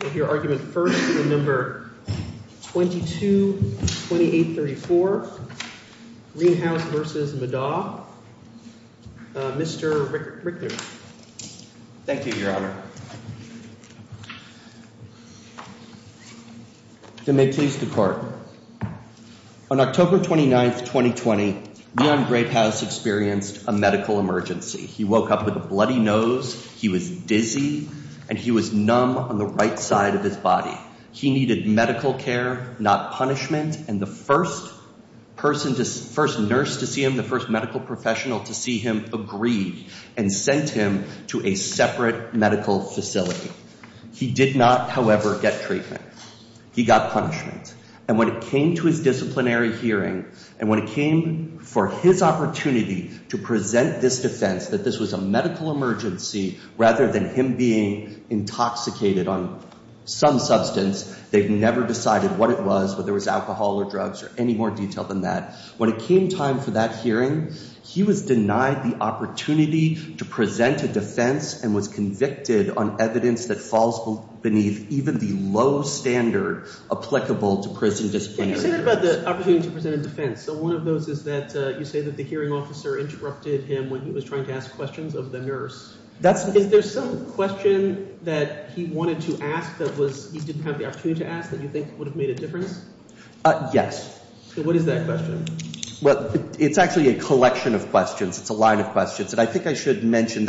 We'll hear argument first in the number 22-2834. Greenhouse v. Meddaugh. Mr. Richter. Thank you, Your Honor. Can they please depart? On October 29, 2020, Leon Greyhouse experienced a medical emergency. He woke up with a bloody nose, he was dizzy, and he was numb on the right side of his body. He needed medical care, not punishment, and the first nurse to see him, the first medical professional to see him, agreed and sent him to a separate medical facility. He did not, however, get treatment. He got punishment. And when it came to his disciplinary hearing, and when it came for his opportunity to present this defense that this was a medical emergency rather than him being intoxicated on some substance, they've never decided what it was, whether it was alcohol or drugs or any more detail than that. When it came time for that hearing, he was denied the opportunity to present a defense and was convicted on evidence that falls beneath even the low standard applicable to prison disciplinary hearings. You say that about the opportunity to present a defense. So one of those is that you say that the hearing officer interrupted him when he was trying to ask questions of the nurse. Is there some question that he wanted to ask that he didn't have the opportunity to ask that you think would have made a difference? Yes. So what is that question? Well, it's actually a collection of questions. It's a line of questions that I think I should mention.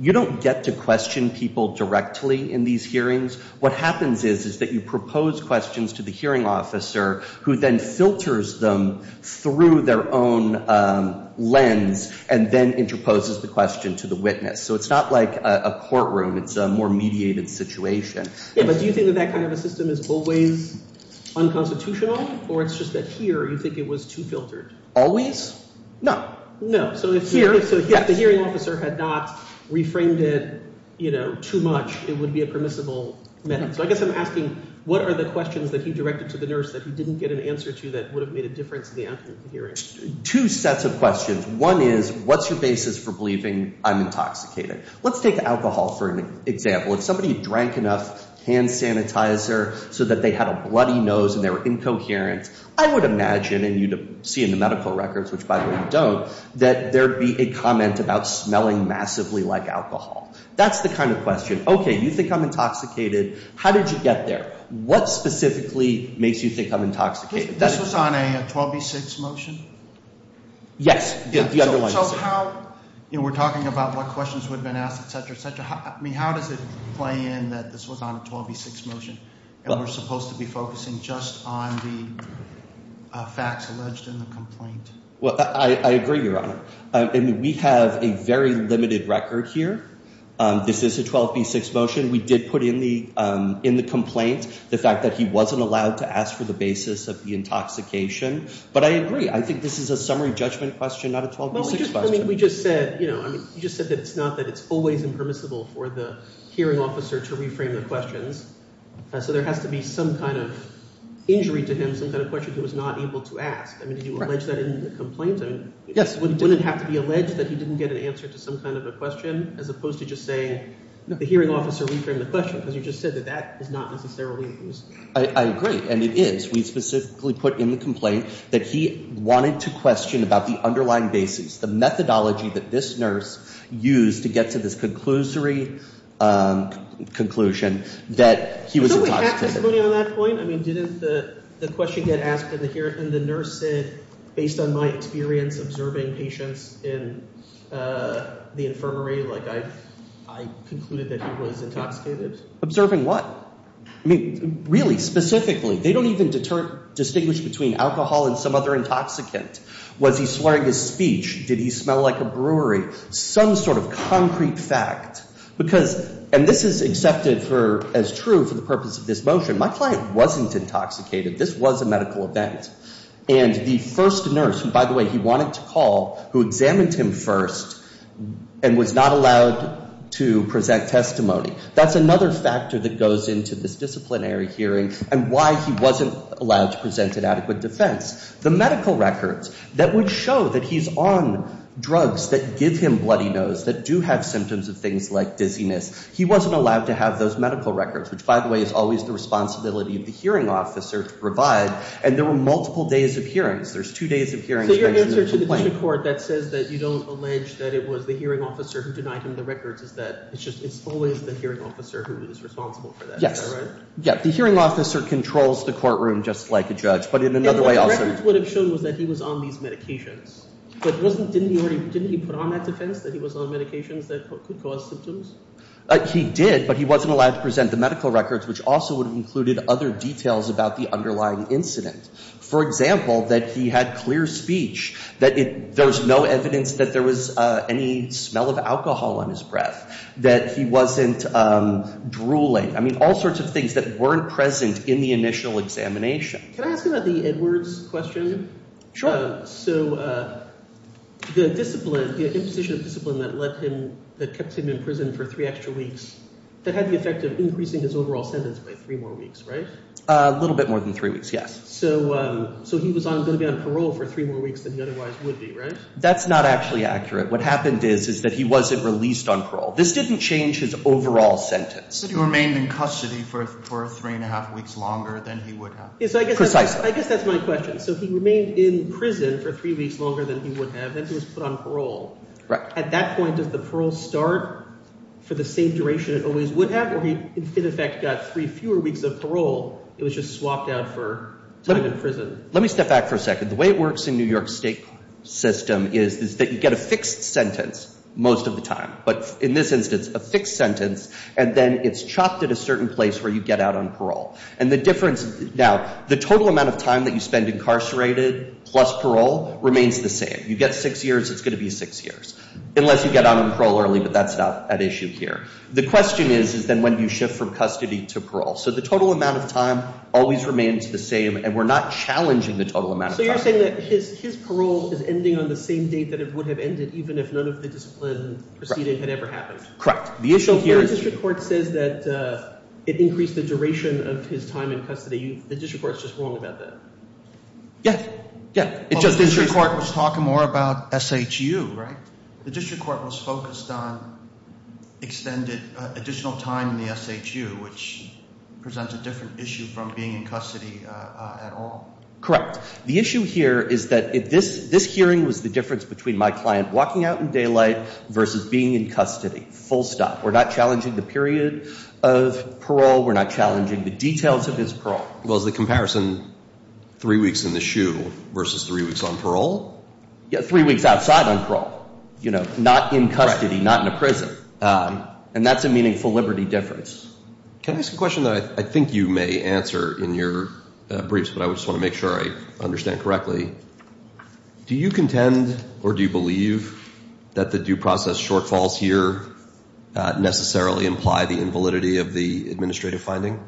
You don't get to question people directly in these hearings. What happens is, that you propose questions to the hearing officer who then filters them through their own lens and then interposes the question to the witness. So it's not like a courtroom, it's a more mediated situation. Yeah, but do you think that kind of a system is always unconstitutional, or it's just that here you think it was too filtered? Always? No. No. So if the hearing officer had not reframed it too much, it would be a permissible method. So I guess I'm asking, what are the questions that he directed to the nurse that he didn't get an answer to that would have made a difference in the outcome of the hearing? Two sets of questions. One is, what's your basis for believing I'm intoxicated? Let's take alcohol for an example. If somebody drank enough hand sanitizer so that they had a bloody nose and they were incoherent, I would imagine, and you'd see in the medical records, which by the way, you don't, that there'd be a comment about smelling massively like alcohol. That's the kind of question. Okay, you think I'm intoxicated. How did you get there? What specifically makes you think I'm intoxicated? This was on a 12b6 motion? Yes. The other one. So how, you know, we're talking about what questions would have been asked, et cetera, et cetera. I mean, how does it play in that this was on a 12b6 motion and we're supposed to be focusing just on the facts alleged in the complaint? Well, I agree, Your Honor. I mean, we have a very limited record here. This is a 12b6 motion. We did put in the complaint the fact that he wasn't allowed to ask for the basis of the intoxication, but I agree. I think this is a summary judgment question, not a 12b6 question. I mean, we just said, you know, I mean, you just said that it's not that it's always impermissible for the hearing officer to reframe the questions. So there has to be some kind of injury to him, some kind of question he was not able to ask. I mean, did you allege that in the complaint? I mean, wouldn't it have to be alleged that he didn't get an answer to some kind of a question as opposed to just saying the hearing officer reframed the question? Because you just said that that is not necessarily the case. I agree, and it is. We specifically put in the complaint that he wanted to question about the underlying basis, the methodology that this nurse used to get to this conclusory conclusion that he was intoxicated. On that point, I mean, didn't the question get asked in the hearing, and the nurse said, based on my experience observing patients in the infirmary, like I concluded that he was intoxicated? Observing what? I mean, really, specifically, they don't even distinguish between alcohol and some other intoxicant. Was he swearing his speech? Did he smell like a brewery? Some sort of concrete fact. And this is accepted as true for the purpose of this motion. My client wasn't intoxicated. This was a medical event. And the first nurse, who, by the way, he wanted to call, who examined him first and was not allowed to present testimony, that's another factor that goes into this disciplinary hearing and why he wasn't allowed to present an adequate defense. The medical records that would show that he's on drugs that give him bloody nose, that do have symptoms of things like dizziness, he wasn't allowed to have those medical records, which, by the way, is always the responsibility of the hearing officer to provide. And there were multiple days of hearings. There's two days of hearings. So your answer to the District Court that says that you don't allege that it was the hearing officer who denied him the records is that it's just, it's always the hearing officer who is responsible for that. Yes. Is that right? Yeah. The hearing officer controls the courtroom just like a judge, but in another way also The records would have shown was that he was on these medications, but wasn't, didn't he already, didn't he put on that defense that he was on medications that could cause symptoms? He did, but he wasn't allowed to present the medical records, which also would have included other details about the underlying incident. For example, that he had clear speech, that there was no evidence that there was any smell of alcohol on his breath, that he wasn't drooling. I mean, all sorts of things that weren't present in the initial examination. Can I ask about the Edwards question? Sure. So the discipline, the imposition of discipline that led him, that kept him in prison for three extra weeks, that had the effect of increasing his overall sentence by three more weeks, right? A little bit more than three weeks. Yes. So, so he was on going to be on parole for three more weeks than he otherwise would be, right? That's not actually accurate. What happened is, is that he wasn't released on parole. This didn't change his overall sentence. He remained in custody for, for three and a half weeks longer than he would have. Precisely. I guess that's my question. So he remained in prison for three weeks longer than he would have, and he was put on parole. Right. At that point, does the parole start for the same duration it always would have? Or he, in effect, got three fewer weeks of parole. It was just swapped out for time in prison. Let me step back for a second. The way it works in New York State system is that you get a fixed sentence most of the time. But in this instance, a fixed sentence, and then it's chopped at a The total amount of time that you spend incarcerated plus parole remains the same. You get six years, it's going to be six years. Unless you get on parole early, but that's not an issue here. The question is, is then when do you shift from custody to parole? So the total amount of time always remains the same, and we're not challenging the total amount of time. So you're saying that his, his parole is ending on the same date that it would have ended, even if none of the discipline proceeding had ever happened. Correct. The issue here is... Your district court says that it increased the duration of his time in custody. The district court's just wrong about that. Yeah, yeah. It just... The district court was talking more about SHU, right? The district court was focused on extended additional time in the SHU, which presents a different issue from being in custody at all. Correct. The issue here is that if this, this hearing was the difference between my client walking out in daylight versus being in custody, full stop. We're not challenging the period of parole. We're not challenging the details of his parole. Well, is the comparison three weeks in the SHU versus three weeks on parole? Yeah, three weeks outside on parole. You know, not in custody, not in a prison. And that's a meaningful liberty difference. Can I ask a question that I think you may answer in your briefs, but I just want to make sure I understand correctly. Do you contend or do you believe that the due process shortfalls here necessarily imply the invalidity of the administrative finding?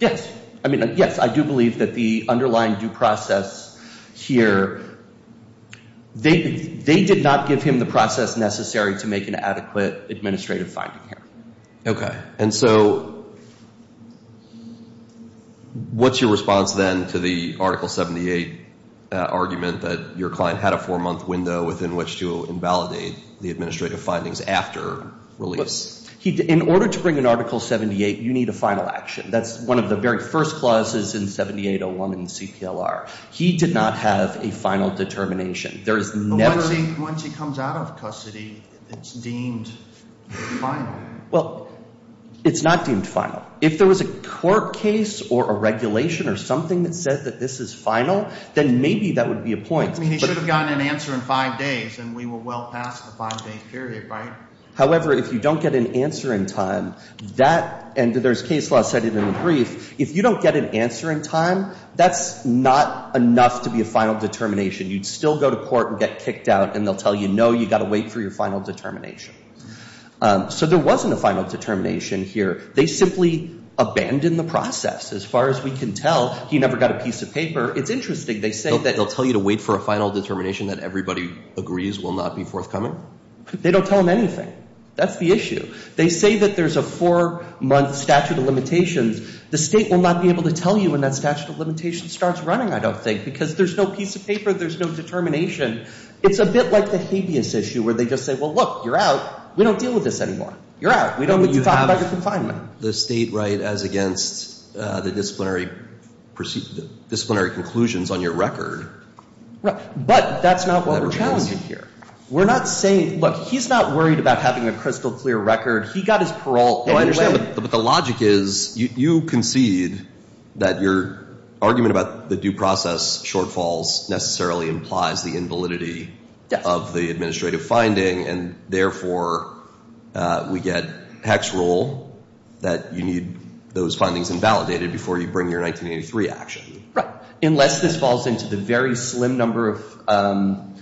Yes. I mean, yes, I do believe that the underlying due process here, they did not give him the process necessary to make an adequate administrative finding here. Okay. And so what's your response then to the Article 78 argument that your client had a release? In order to bring an Article 78, you need a final action. That's one of the very first clauses in 7801 in the CPLR. He did not have a final determination. Once he comes out of custody, it's deemed final. Well, it's not deemed final. If there was a court case or a regulation or something that said that this is final, then maybe that would be a point. I mean, he should have gotten an answer in five days, and we were well past the five-day period, right? However, if you don't get an answer in time, and there's case law set in the brief, if you don't get an answer in time, that's not enough to be a final determination. You'd still go to court and get kicked out, and they'll tell you, no, you've got to wait for your final determination. So there wasn't a final determination here. They simply abandoned the process. As far as we can tell, he never got a piece of paper. It's interesting. They say that they'll tell you to wait for a final determination that everybody agrees will not be forthcoming. They don't tell him anything. That's the issue. They say that there's a four-month statute of limitations. The state will not be able to tell you when that statute of limitations starts running, I don't think, because there's no piece of paper. There's no determination. It's a bit like the habeas issue, where they just say, well, look, you're out. We don't deal with this anymore. You're out. We don't need to talk about your confinement. But you have the state right as against the disciplinary conclusions on your record. But that's not what we're challenging here. We're not saying, look, he's not worried about having a crystal clear record. He got his parole anyway. Well, I understand, but the logic is, you concede that your argument about the due process shortfalls necessarily implies the invalidity of the administrative finding. And therefore, we get Hecht's rule that you need those findings invalidated before you bring your 1983 action. Unless this falls into the very slim number of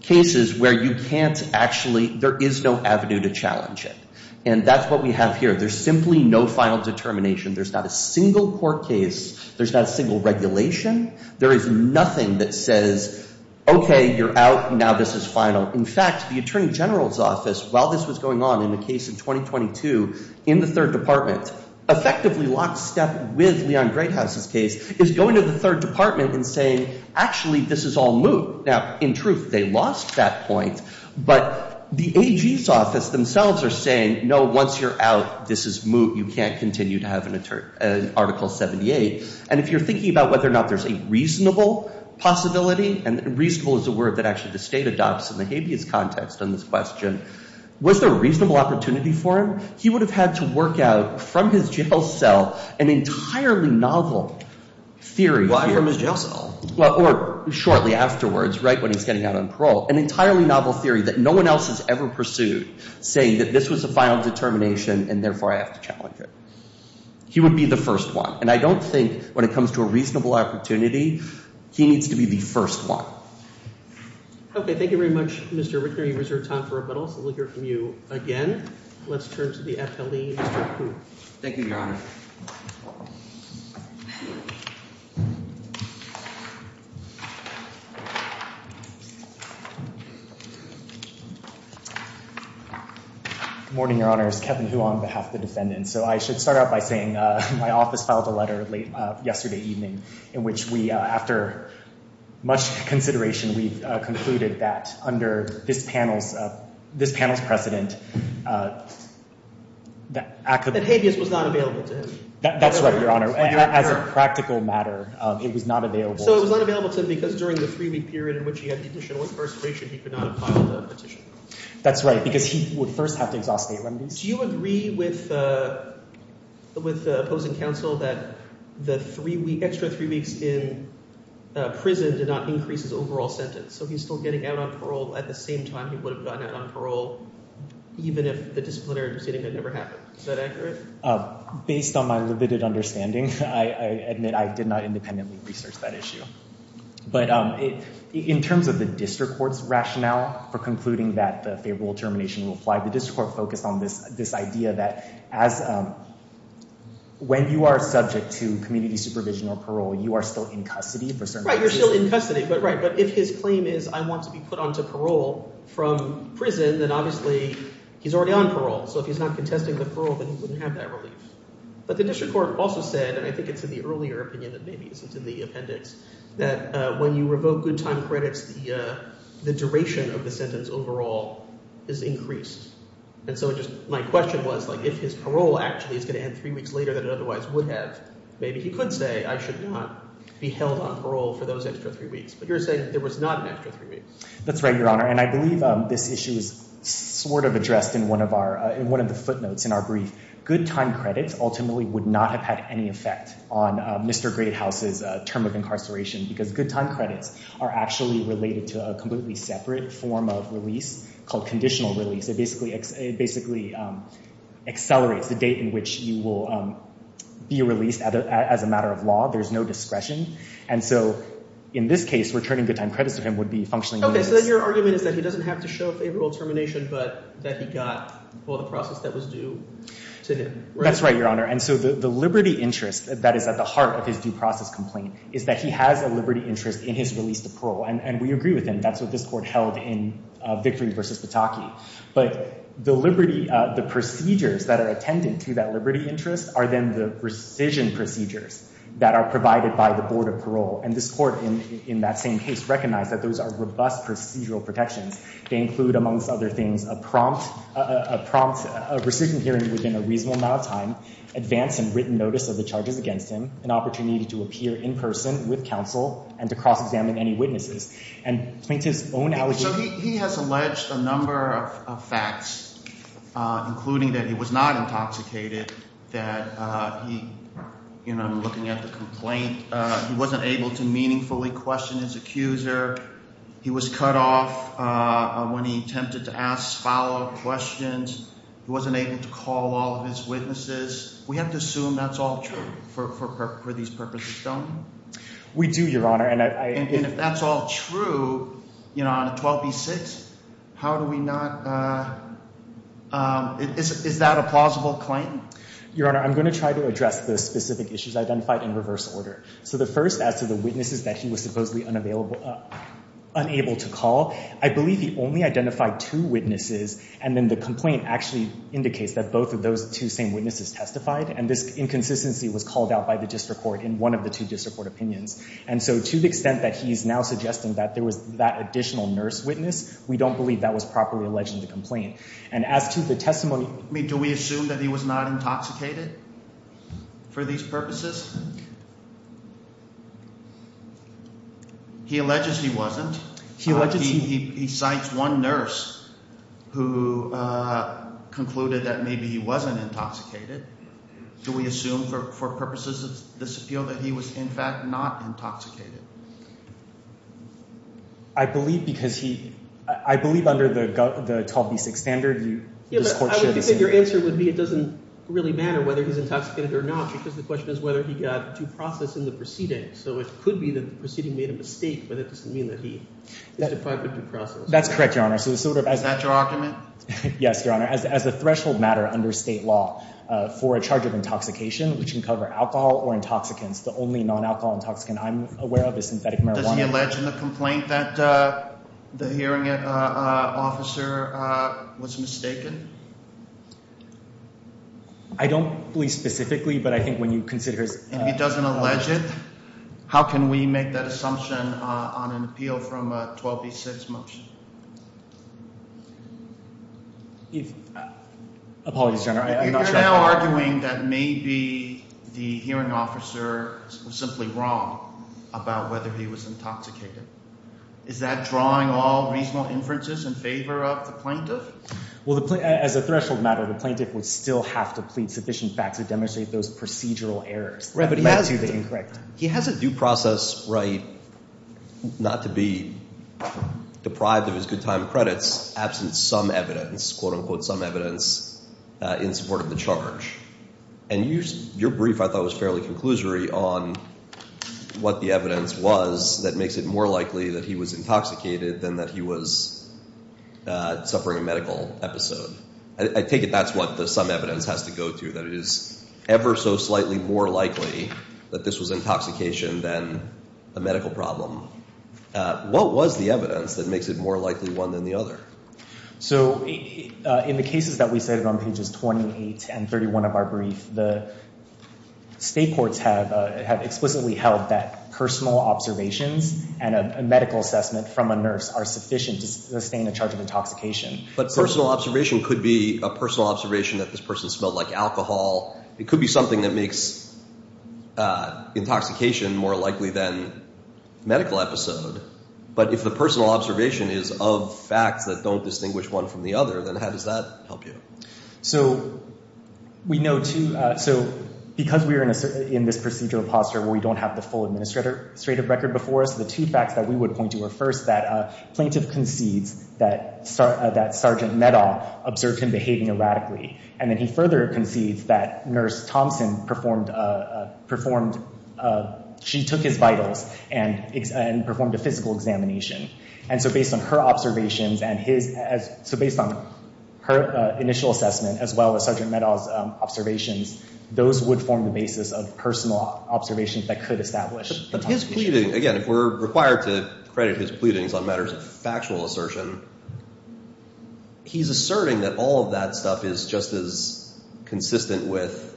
cases where you can't actually, there is no avenue to challenge it. And that's what we have here. There's simply no final determination. There's not a single court case. There's not a single regulation. There is nothing that says, OK, you're out. Now this is final. In fact, the attorney general's office, while this was going on in the case in 2022 in the third department, effectively lockstep with Leon Greathouse's case, is going to the third department and saying, actually, this is all moot. Now in truth, they lost that point. But the AG's office themselves are saying, no, once you're out, this is moot. You can't continue to have an article 78. And if you're thinking about whether or not there's a reasonable possibility, and reasonable is a word that actually the state adopts in the habeas context on this question, was there a reasonable opportunity for him? He would have had to work out from his jail cell an entirely novel theory. Why from his jail cell? Or shortly afterwards, right when he's getting out on parole. An entirely novel theory that no one else has ever pursued, saying that this was a final determination, and therefore I have to challenge it. He would be the first one. And I don't think when it comes to a reasonable opportunity, he needs to be the first one. OK, thank you very much, Mr. Rickner. You've reserved time for rebuttals. We'll hear from you again. Let's turn to the FLE, Mr. Hu. Thank you, Your Honor. Good morning, Your Honors. Kevin Hu on behalf of the defendants. So I should start out by saying my office filed a letter yesterday evening, in which we, after much consideration, we've concluded that under this panel's precedent, that habeas was not available to him. That's right, Your Honor. As a practical matter, it was not available. So it was not available to him because during the three-week period in which he had the additional incarceration, he could not have filed a petition. That's right, because he would first have to exhaust state remedies. Do you agree with the opposing counsel that the extra three weeks in prison did not increase his overall sentence? So he's still getting out on parole at the same time he would have gotten out on parole, even if the disciplinary proceeding had never happened. Is that accurate? Based on my limited understanding, I admit I did not independently research that issue. But in terms of the district court's rationale for concluding that the favorable termination will apply, the district court focused on this idea that when you are subject to community supervision or parole, you are still in custody for certain purposes. Right, you're still in custody. But if his claim is, I want to be put onto parole from prison, then obviously he's already on parole. So if he's not contesting the parole, then he wouldn't have that relief. But the district court also said, and I think it's in the earlier opinion, and maybe it's in the appendix, that when you revoke good time credits, the duration of the sentence overall is increased. And so my question was, if his parole actually is going to end three weeks later than it otherwise would have, maybe he could say, I should not be held on parole for those extra three weeks. But you're saying there was not an extra three weeks. That's right, Your Honor. And I believe this issue is sort of addressed in one of the footnotes in our brief. Good time credits ultimately would not have had any effect on Mr. Greathouse's term of incarceration, because good time credits are actually related to a completely separate form of release called conditional release. It basically accelerates the date in which you will be released as a matter of law. There's no discretion. And so in this case, returning good time credits to him would be functionally useless. Your argument is that he doesn't have to show favorable termination, but that he got all the process that was due to him. That's right, Your Honor. And so the liberty interest that is at the heart of his due process complaint is that he has a liberty interest in his release to parole. And we agree with him. That's what this court held in Victory v. Pataki. But the procedures that are attended to that liberty interest are then the rescission procedures that are provided by the Board of Parole. And this court, in that same case, recognized that those are robust procedural protections. They include, amongst other things, a prompt rescission hearing within a reasonable amount of time, advance and written notice of the charges against him, an opportunity to appear in person with counsel, and to cross-examine any witnesses. And plaintiff's own allegation— So he has alleged a number of facts, including that he was not intoxicated, that he—you know, I'm looking at the complaint— he wasn't able to meaningfully question his accuser, he was cut off when he attempted to ask foul questions, he wasn't able to call all of his witnesses. We have to assume that's all true for these purposes, don't we? We do, Your Honor. And if that's all true, you know, on a 12b-6, how do we not—is that a plausible claim? Your Honor, I'm going to try to address the specific issues identified in reverse order. So the first, as to the witnesses that he was supposedly unable to call, I believe he only identified two witnesses, and then the complaint actually indicates that both of those two same witnesses testified, and this inconsistency was called out by the district court in one of the two district court opinions. And so to the extent that he's now suggesting that there was that additional nurse witness, we don't believe that was properly alleged in the complaint. And as to the testimony— I mean, do we assume that he was not intoxicated for these purposes? He alleges he wasn't. He alleges he— He cites one nurse who concluded that maybe he wasn't intoxicated. Do we assume for purposes of this appeal that he was, in fact, not intoxicated? I believe because he—I believe under the 12b-6 standard, you— Yeah, but I think your answer would be it doesn't really matter whether he's intoxicated or not, because the question is whether he got too processed in the process of the proceeding. So it could be that the proceeding made a mistake, but that doesn't mean that he is definitely too processed. That's correct, Your Honor. So the sort of— Is that your argument? Yes, Your Honor. As the threshold matter under state law for a charge of intoxication, which can cover alcohol or intoxicants, the only non-alcohol intoxicant I'm aware of is synthetic marijuana. Does he allege in the complaint that the hearing officer was mistaken? I don't believe specifically, but I think when you consider— If he doesn't allege it, how can we make that assumption on an appeal from a 12b-6 motion? Apologies, Your Honor. If you're now arguing that maybe the hearing officer was simply wrong about whether he was intoxicated, is that drawing all reasonable inferences in favor of the plaintiff? Well, as a threshold matter, the plaintiff would still have to plead sufficient facts to demonstrate those procedural errors. But he has to be incorrect. He has a due process right not to be deprived of his good time credits absent some evidence, quote-unquote, some evidence in support of the charge. And your brief, I thought, was fairly conclusory on what the evidence was that makes it more likely that he was intoxicated than that he was suffering a medical episode. I take it that's what the some evidence has to go to, that it is ever so slightly more likely that this was intoxication than a medical problem. What was the evidence that makes it more likely one than the other? So in the cases that we cited on pages 28 and 31 of our brief, the state courts have explicitly held that personal observations and a medical assessment from a nurse are sufficient to sustain a charge of intoxication. But personal observation could be a personal observation that this person smelled like alcohol. It could be something that makes intoxication more likely than medical episode. But if the personal observation is of facts that don't distinguish one from the other, then how does that help you? So we know, too, so because we are in this procedural posture where we don't have the full administrative record before us, the two facts that we would point to are, first, that a plaintiff concedes that Sergeant Meadow observed him behaving erratically. And then he further concedes that Nurse Thompson performed... She took his vitals and performed a physical examination. And so based on her observations and his... So based on her initial assessment, as well as Sergeant Meadow's observations, those would form the basis of personal observations that could establish intoxication. But his pleading, again, if we're required to credit his pleadings on matters of factual assertion, he's asserting that all of that stuff is just as consistent with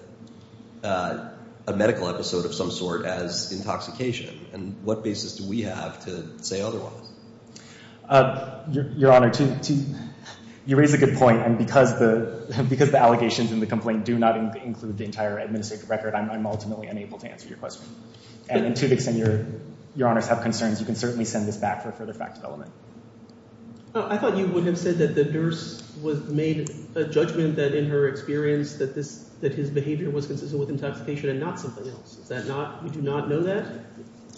a medical episode of some sort as intoxication. And what basis do we have to say otherwise? Your Honor, you raise a good point. And because the allegations in the complaint do not include the entire administrative record, I'm ultimately unable to answer your question. And to the extent your honors have concerns, you can certainly send this back for further fact development. I thought you would have said that the nurse was made a judgment that in her experience that his behavior was consistent with intoxication and not something else. Is that not... You do not know that?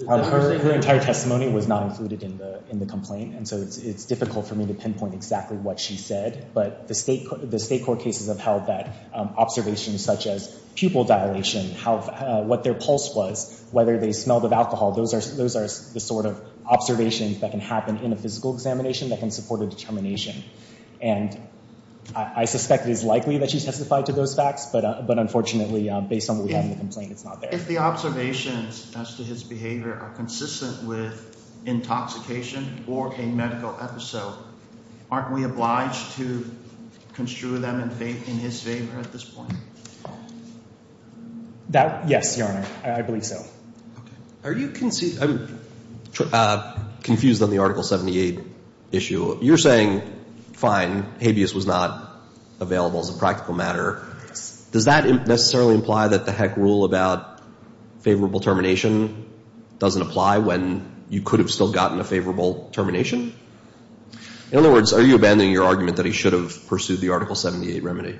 Her entire testimony was not included in the complaint. And so it's difficult for me to pinpoint exactly what she said. But the state court cases have held that observations such as pupil dilation, what their pulse was, whether they smelled of alcohol, those are the sort of observations that can happen in a physical examination that can support a determination. And I suspect it is likely that she testified to those facts. But unfortunately, based on what we have in the complaint, it's not there. If the observations as to his behavior are consistent with intoxication or a medical episode, aren't we obliged to construe them in his favor at this point? Yes, your Honor. I believe so. Okay. I'm confused on the Article 78 issue. You're saying, fine, habeas was not available as a practical matter. Does that necessarily imply that the heck rule about favorable termination doesn't apply when you could have still gotten a favorable termination? In other words, are you abandoning your argument that he should have pursued the Article 78 remedy?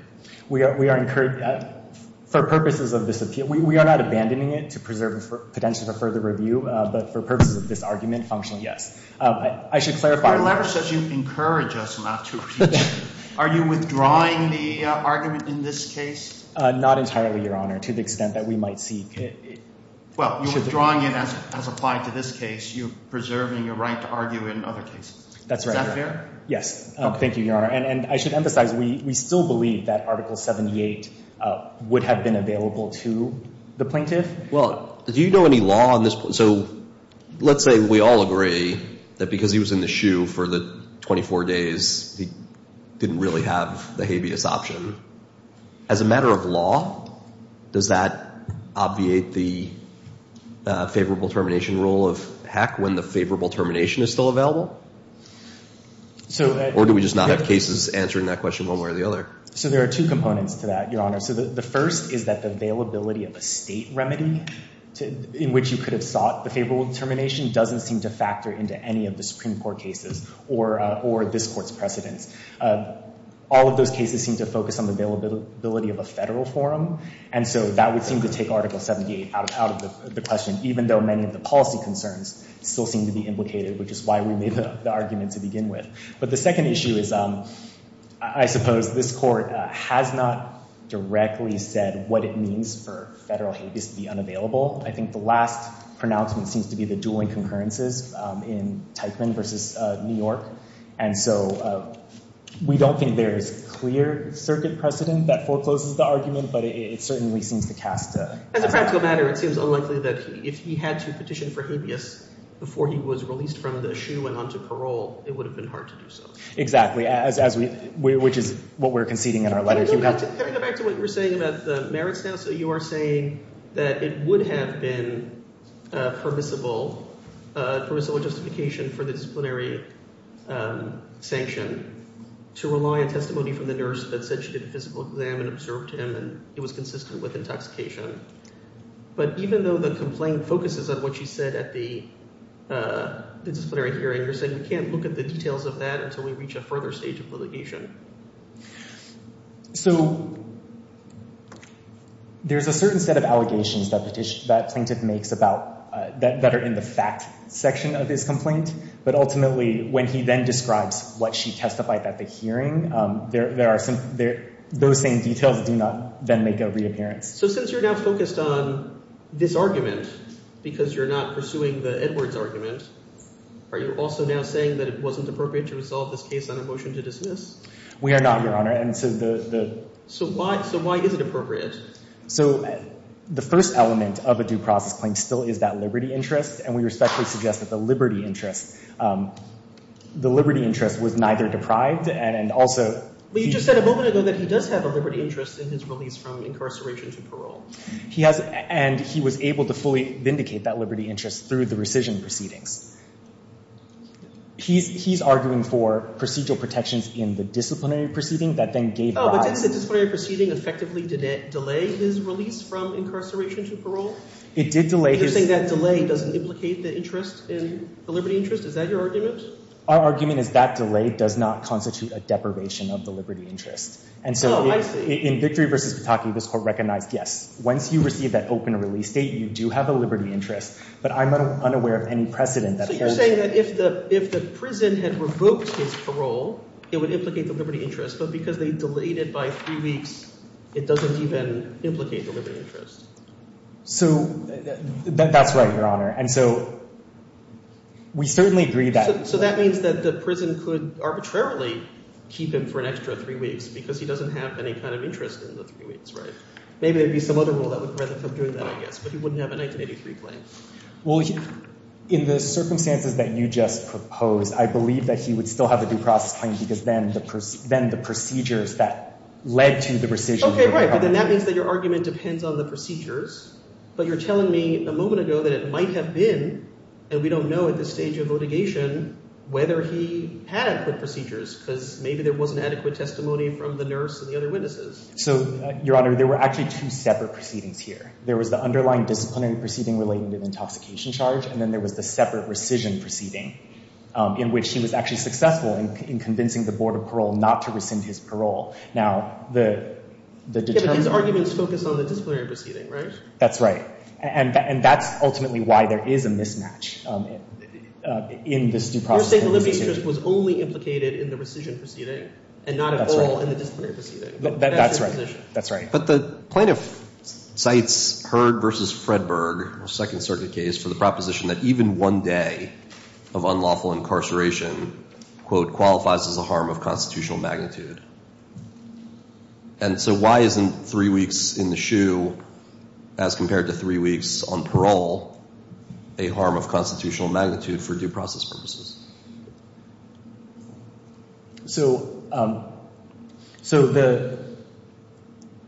For purposes of this appeal, we are not abandoning it to preserve potential for further review. But for purposes of this argument, functionally, yes. I should clarify. Your letter says you encourage us not to. Are you withdrawing the argument in this case? Not entirely, your Honor, to the extent that we might see it. Well, you're withdrawing it as applied to this case. You're preserving your right to argue in other cases. That's right. Is that fair? Yes. Thank you, your Honor. And I should emphasize, we still believe that Article 78 would have been available to the plaintiff. Well, do you know any law on this? So let's say we all agree that because he was in the shoe for the 24 days, he didn't really have the habeas option. As a matter of law, does that obviate the favorable termination rule of heck when the favorable termination is still available? Or do we just not have cases answering that question one way or the other? So there are two components to that, your Honor. The first is that the availability of a state remedy in which you could have sought the favorable termination doesn't seem to factor into any of the Supreme Court cases or this Court's precedents. All of those cases seem to focus on the availability of a federal forum. And so that would seem to take Article 78 out of the question, even though many of the policy concerns still seem to be implicated, which is why we made the argument to begin with. But the second issue is I suppose this Court has not directly said what it means for federal habeas to be unavailable. I think the last pronouncement seems to be the dueling concurrences in Teichman versus New York. And so we don't think there is clear circuit precedent that forecloses the argument, but it certainly seems to cast a— As a practical matter, it seems unlikely that if he had to petition for habeas before he was released from the SHU and onto parole, it would have been hard to do so. Exactly, which is what we're conceding in our letter. Can I go back to what you were saying about the merits now? So you are saying that it would have been permissible justification for the disciplinary sanction to rely on testimony from the nurse that said she did a physical exam and observed him and it was consistent with intoxication. But even though the complaint focuses on what she said at the disciplinary hearing, you're saying we can't look at the details of that until we reach a further stage of litigation. So there's a certain set of allegations that plaintiff makes that are in the fact section of his complaint, but ultimately when he then describes what she testified at the hearing, those same details do not then make a reappearance. So since you're now focused on this argument because you're not pursuing the Edwards argument, are you also now saying that it wasn't appropriate to resolve this case on a motion to dismiss? We are not, Your Honor. And so why is it appropriate? So the first element of a due process claim still is that liberty interest, and we respectfully suggest that the liberty interest was neither deprived and also... But you just said a moment ago that he does have a liberty interest in his release from incarceration to parole. He has, and he was able to fully vindicate that liberty interest through the rescission proceedings. He's arguing for procedural protections in the disciplinary proceeding that then gave rise... Oh, but did the disciplinary proceeding effectively delay his release from incarceration to parole? It did delay his... You're saying that delay doesn't implicate the interest in the liberty interest? Is that your argument? Our argument is that delay does not constitute a deprivation of the liberty interest. And so in Victory v. Pataki, this court recognized, yes, once you receive that open release date, you do have a liberty interest, but I'm unaware of any precedent that... So you're saying that if the prison had revoked his parole, it would implicate the liberty interest, but because they delayed it by three weeks, it doesn't even implicate the liberty interest. So that's right, Your Honor. And so we certainly agree that... So that means that the prison could arbitrarily keep him for an extra three weeks because he doesn't have any kind of interest in the three weeks, right? Maybe there'd be some other rule that would prevent him from doing that, I guess, but he wouldn't have a 1983 claim. Well, in the circumstances that you just proposed, I believe that he would still have a due process claim because then the procedures that led to the rescission... Okay, right. But then that means that your argument depends on the procedures. But you're telling me a moment ago that it might have been, and we don't know at this stage of litigation, whether he had the procedures because maybe there wasn't adequate testimony from the nurse and the other witnesses. So, Your Honor, there were actually two separate proceedings here. There was the underlying disciplinary proceeding relating to the intoxication charge, and then there was the separate rescission proceeding in which he was actually successful in convincing the board of parole not to rescind his parole. Now, the... Yeah, but these arguments focus on the disciplinary proceeding, right? That's right. And that's ultimately why there is a mismatch in this due process... You're saying the limby strip was only implicated in the rescission proceeding and not at all in the disciplinary proceeding. That's right, that's right. But the plaintiff cites Heard v. Fredberg, a Second Circuit case, for the proposition that even one day of unlawful incarceration, quote, qualifies as a harm of constitutional magnitude. And so why isn't three weeks in the shoe as compared to three weeks on parole a harm of constitutional magnitude for due process purposes? So,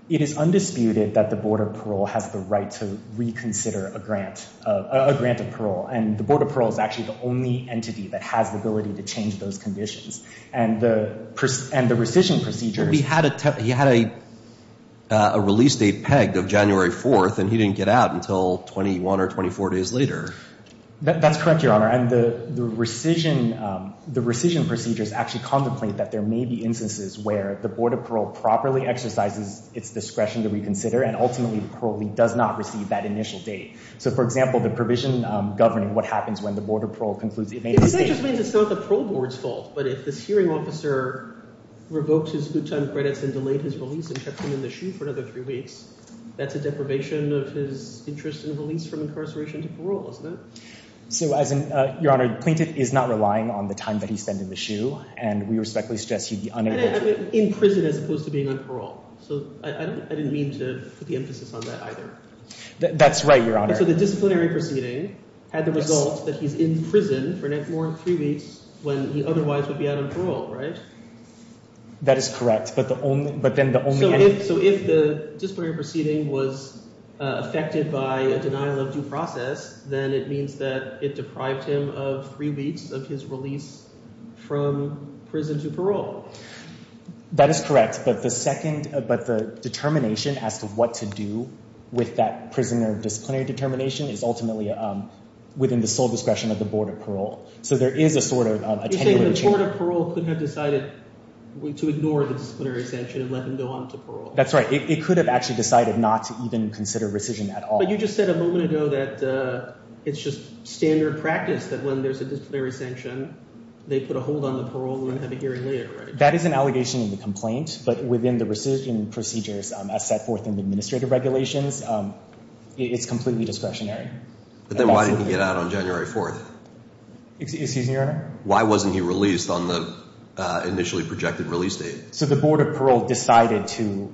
it is undisputed that the board of parole has the right to reconsider a grant of parole, and the board of parole is actually the only entity that has the ability to change those conditions. And the rescission procedures... But he had a release date pegged of January 4th, and he didn't get out until 21 or 24 days later. That's correct, Your Honor. And the rescission procedures actually contemplate that there may be instances where the board of parole properly exercises its discretion to reconsider, and ultimately probably does not receive that initial date. So, for example, the provision governing what happens when the board of parole concludes... It just means it's not the parole board's fault. But if this hearing officer revoked his good time credits and delayed his release and kept him in the shoe for another three weeks, that's a deprivation of his interest in release from incarceration to parole, isn't it? So, Your Honor, Plaintiff is not relying on the time that he spent in the shoe, and we respectfully suggest he'd be unable to... In prison as opposed to being on parole. So I didn't mean to put the emphasis on that either. That's right, Your Honor. So the disciplinary proceeding had the result that he's in prison for more than three weeks when he otherwise would be out on parole, right? That is correct, but then the only... So if the disciplinary proceeding was affected by a denial of due process, then it means that it deprived him of three weeks of his release from prison to parole. That is correct, but the determination as to what to do with that prisoner disciplinary determination is ultimately within the sole discretion of the board of parole. So there is a sort of a... You're saying the board of parole could have decided to ignore the disciplinary sanction and let him go on to parole. That's right. It could have actually decided not to even consider rescission at all. You just said a moment ago that it's just standard practice that when there's a disciplinary sanction, they put a hold on the parole and have a hearing later, right? That is an allegation in the complaint, but within the rescission procedures as set forth in the administrative regulations, it's completely discretionary. But then why didn't he get out on January 4th? Excuse me, Your Honor? Why wasn't he released on the initially projected release date? So the board of parole decided to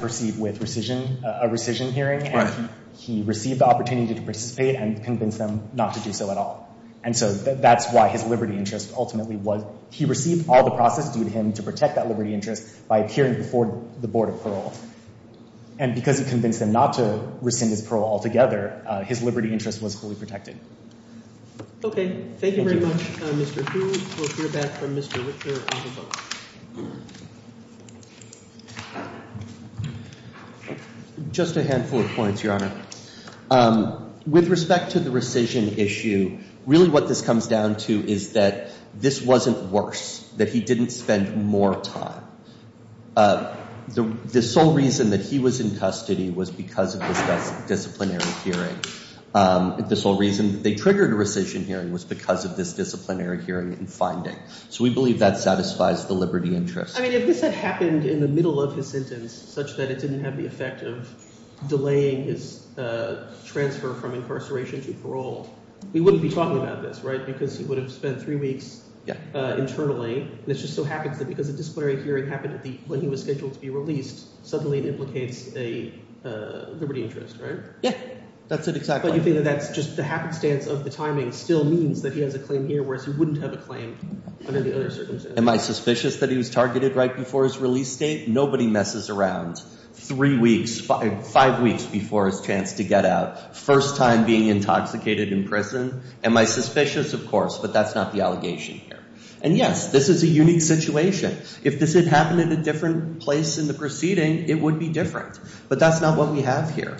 proceed with a rescission hearing. He received the opportunity to participate and convince them not to do so at all. And so that's why his liberty interest ultimately was... He received all the process due to him to protect that liberty interest by appearing before the board of parole. And because he convinced them not to rescind his parole altogether, his liberty interest was fully protected. Okay. Thank you very much, Mr. Hu. We'll hear back from Mr. Richter. Just a handful of points, Your Honor. With respect to the rescission issue, really what this comes down to is that this wasn't worse, that he didn't spend more time. The sole reason that he was in custody was because of this disciplinary hearing. The sole reason that they triggered a rescission hearing So we believe that's out of the question. I mean, if this had happened in the middle of his sentence such that it didn't have the effect of delaying his transfer from incarceration to parole, we wouldn't be talking about this, right? Because he would have spent three weeks internally. This just so happens that because the disciplinary hearing happened at the point he was scheduled to be released, suddenly it implicates a liberty interest, right? Yeah, that's it exactly. But you think that that's just the happenstance of the timing still means that he has a claim here, whereas he wouldn't have a claim under the other circumstances. Am I suspicious that he was targeted right before his release date? Nobody messes around three weeks, five weeks before his chance to get out. First time being intoxicated in prison. Am I suspicious? Of course, but that's not the allegation here. And yes, this is a unique situation. If this had happened in a different place in the proceeding, it would be different. But that's not what we have here.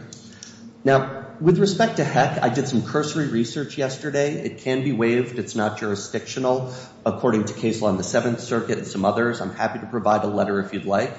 Now, with respect to Heck, I did some cursory research yesterday. It can be waived. It's not jurisdictional. According to case law in the Seventh Circuit and some others, I'm happy to provide a letter if you'd like.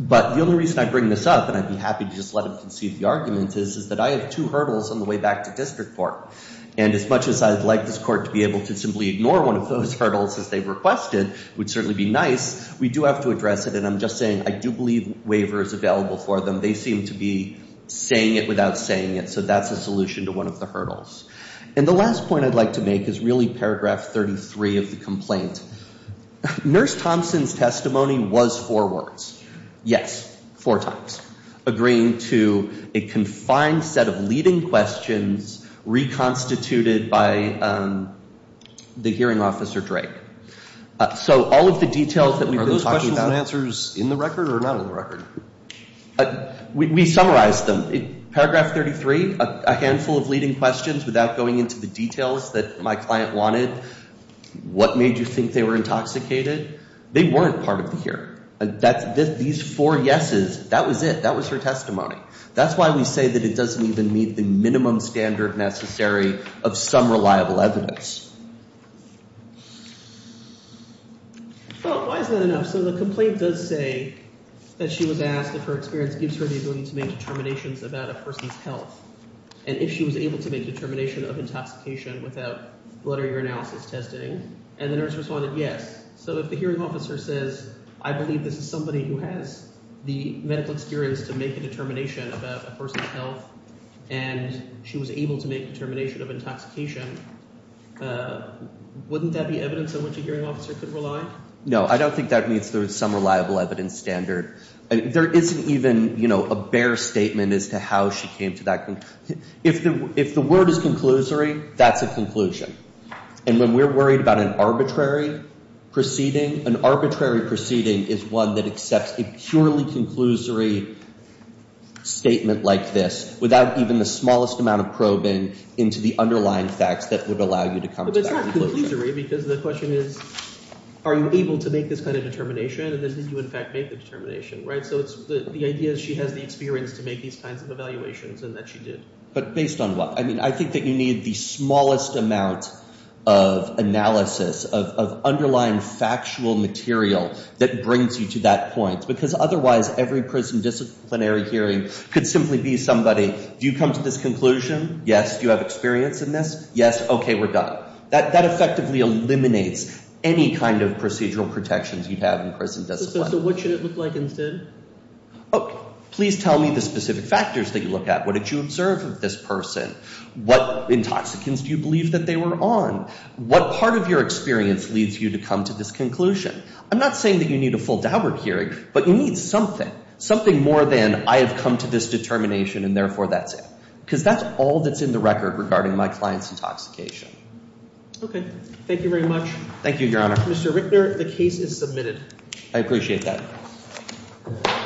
But the only reason I bring this up, and I'd be happy to just let him concede the argument, is that I have two hurdles on the way back to district court. And as much as I'd like this court to be able to simply ignore one of those hurdles as they requested would certainly be nice. We do have to address it. And I'm just saying, I do believe waiver is available for them. They seem to be saying it without saying it. So that's a solution to one of the hurdles. And the last point I'd like to make is really paragraph 33 of the complaint. Nurse Thompson's testimony was four words. Yes. Four times. Agreeing to a confined set of leading questions reconstituted by the hearing officer, Drake. So all of the details that we've been talking about- Are those questions and answers in the record or not on the record? We summarized them. Paragraph 33, a handful of leading questions without going into the details that my client wanted. What made you think they were intoxicated? They weren't part of the hearing. These four yeses, that was it. That was her testimony. That's why we say that it doesn't even meet the minimum standard necessary of some reliable evidence. Well, why is that enough? So the complaint does say that she was asked if her experience gives her the ability to make determinations about a person's health. And if she was able to make a determination of intoxication without blood or urinalysis testing. And the nurse responded, yes. So if the hearing officer says, I believe this is somebody who has the medical experience to make a determination about a person's health and she was able to make a determination of intoxication, wouldn't that be evidence on which a hearing officer could rely? No, I don't think that means there's some reliable evidence standard. There isn't even a bare statement as to how she came to that conclusion. If the word is conclusory, that's a conclusion. And when we're worried about an arbitrary proceeding, an arbitrary proceeding is one that accepts a purely conclusory statement like this without even the smallest amount of probing into the underlying facts that would allow you to come to that conclusion. But it's not conclusory because the question is, are you able to make this kind of determination? And then did you, in fact, make the determination, right? So the idea is she has the experience to make these kinds of evaluations and that she did. But based on what? I mean, I think that you need the smallest amount of analysis, of underlying factual material that brings you to that point. Because otherwise, every prison disciplinary hearing could simply be somebody, do you come to this conclusion? Yes. Do you have experience in this? Yes. OK, we're done. That effectively eliminates any kind of procedural protections you'd have in prison discipline. So what should it look like instead? Oh, please tell me the specific factors that you look at. What did you observe of this person? What intoxicants do you believe that they were on? What part of your experience leads you to come to this conclusion? I'm not saying that you need a full Daubert hearing, but you need something, something more than I have come to this determination and therefore that's it. Because that's all that's in the record regarding my client's intoxication. OK, thank you very much. Thank you, Your Honor. Mr. Rickner, the case is submitted. I appreciate that. Thank you.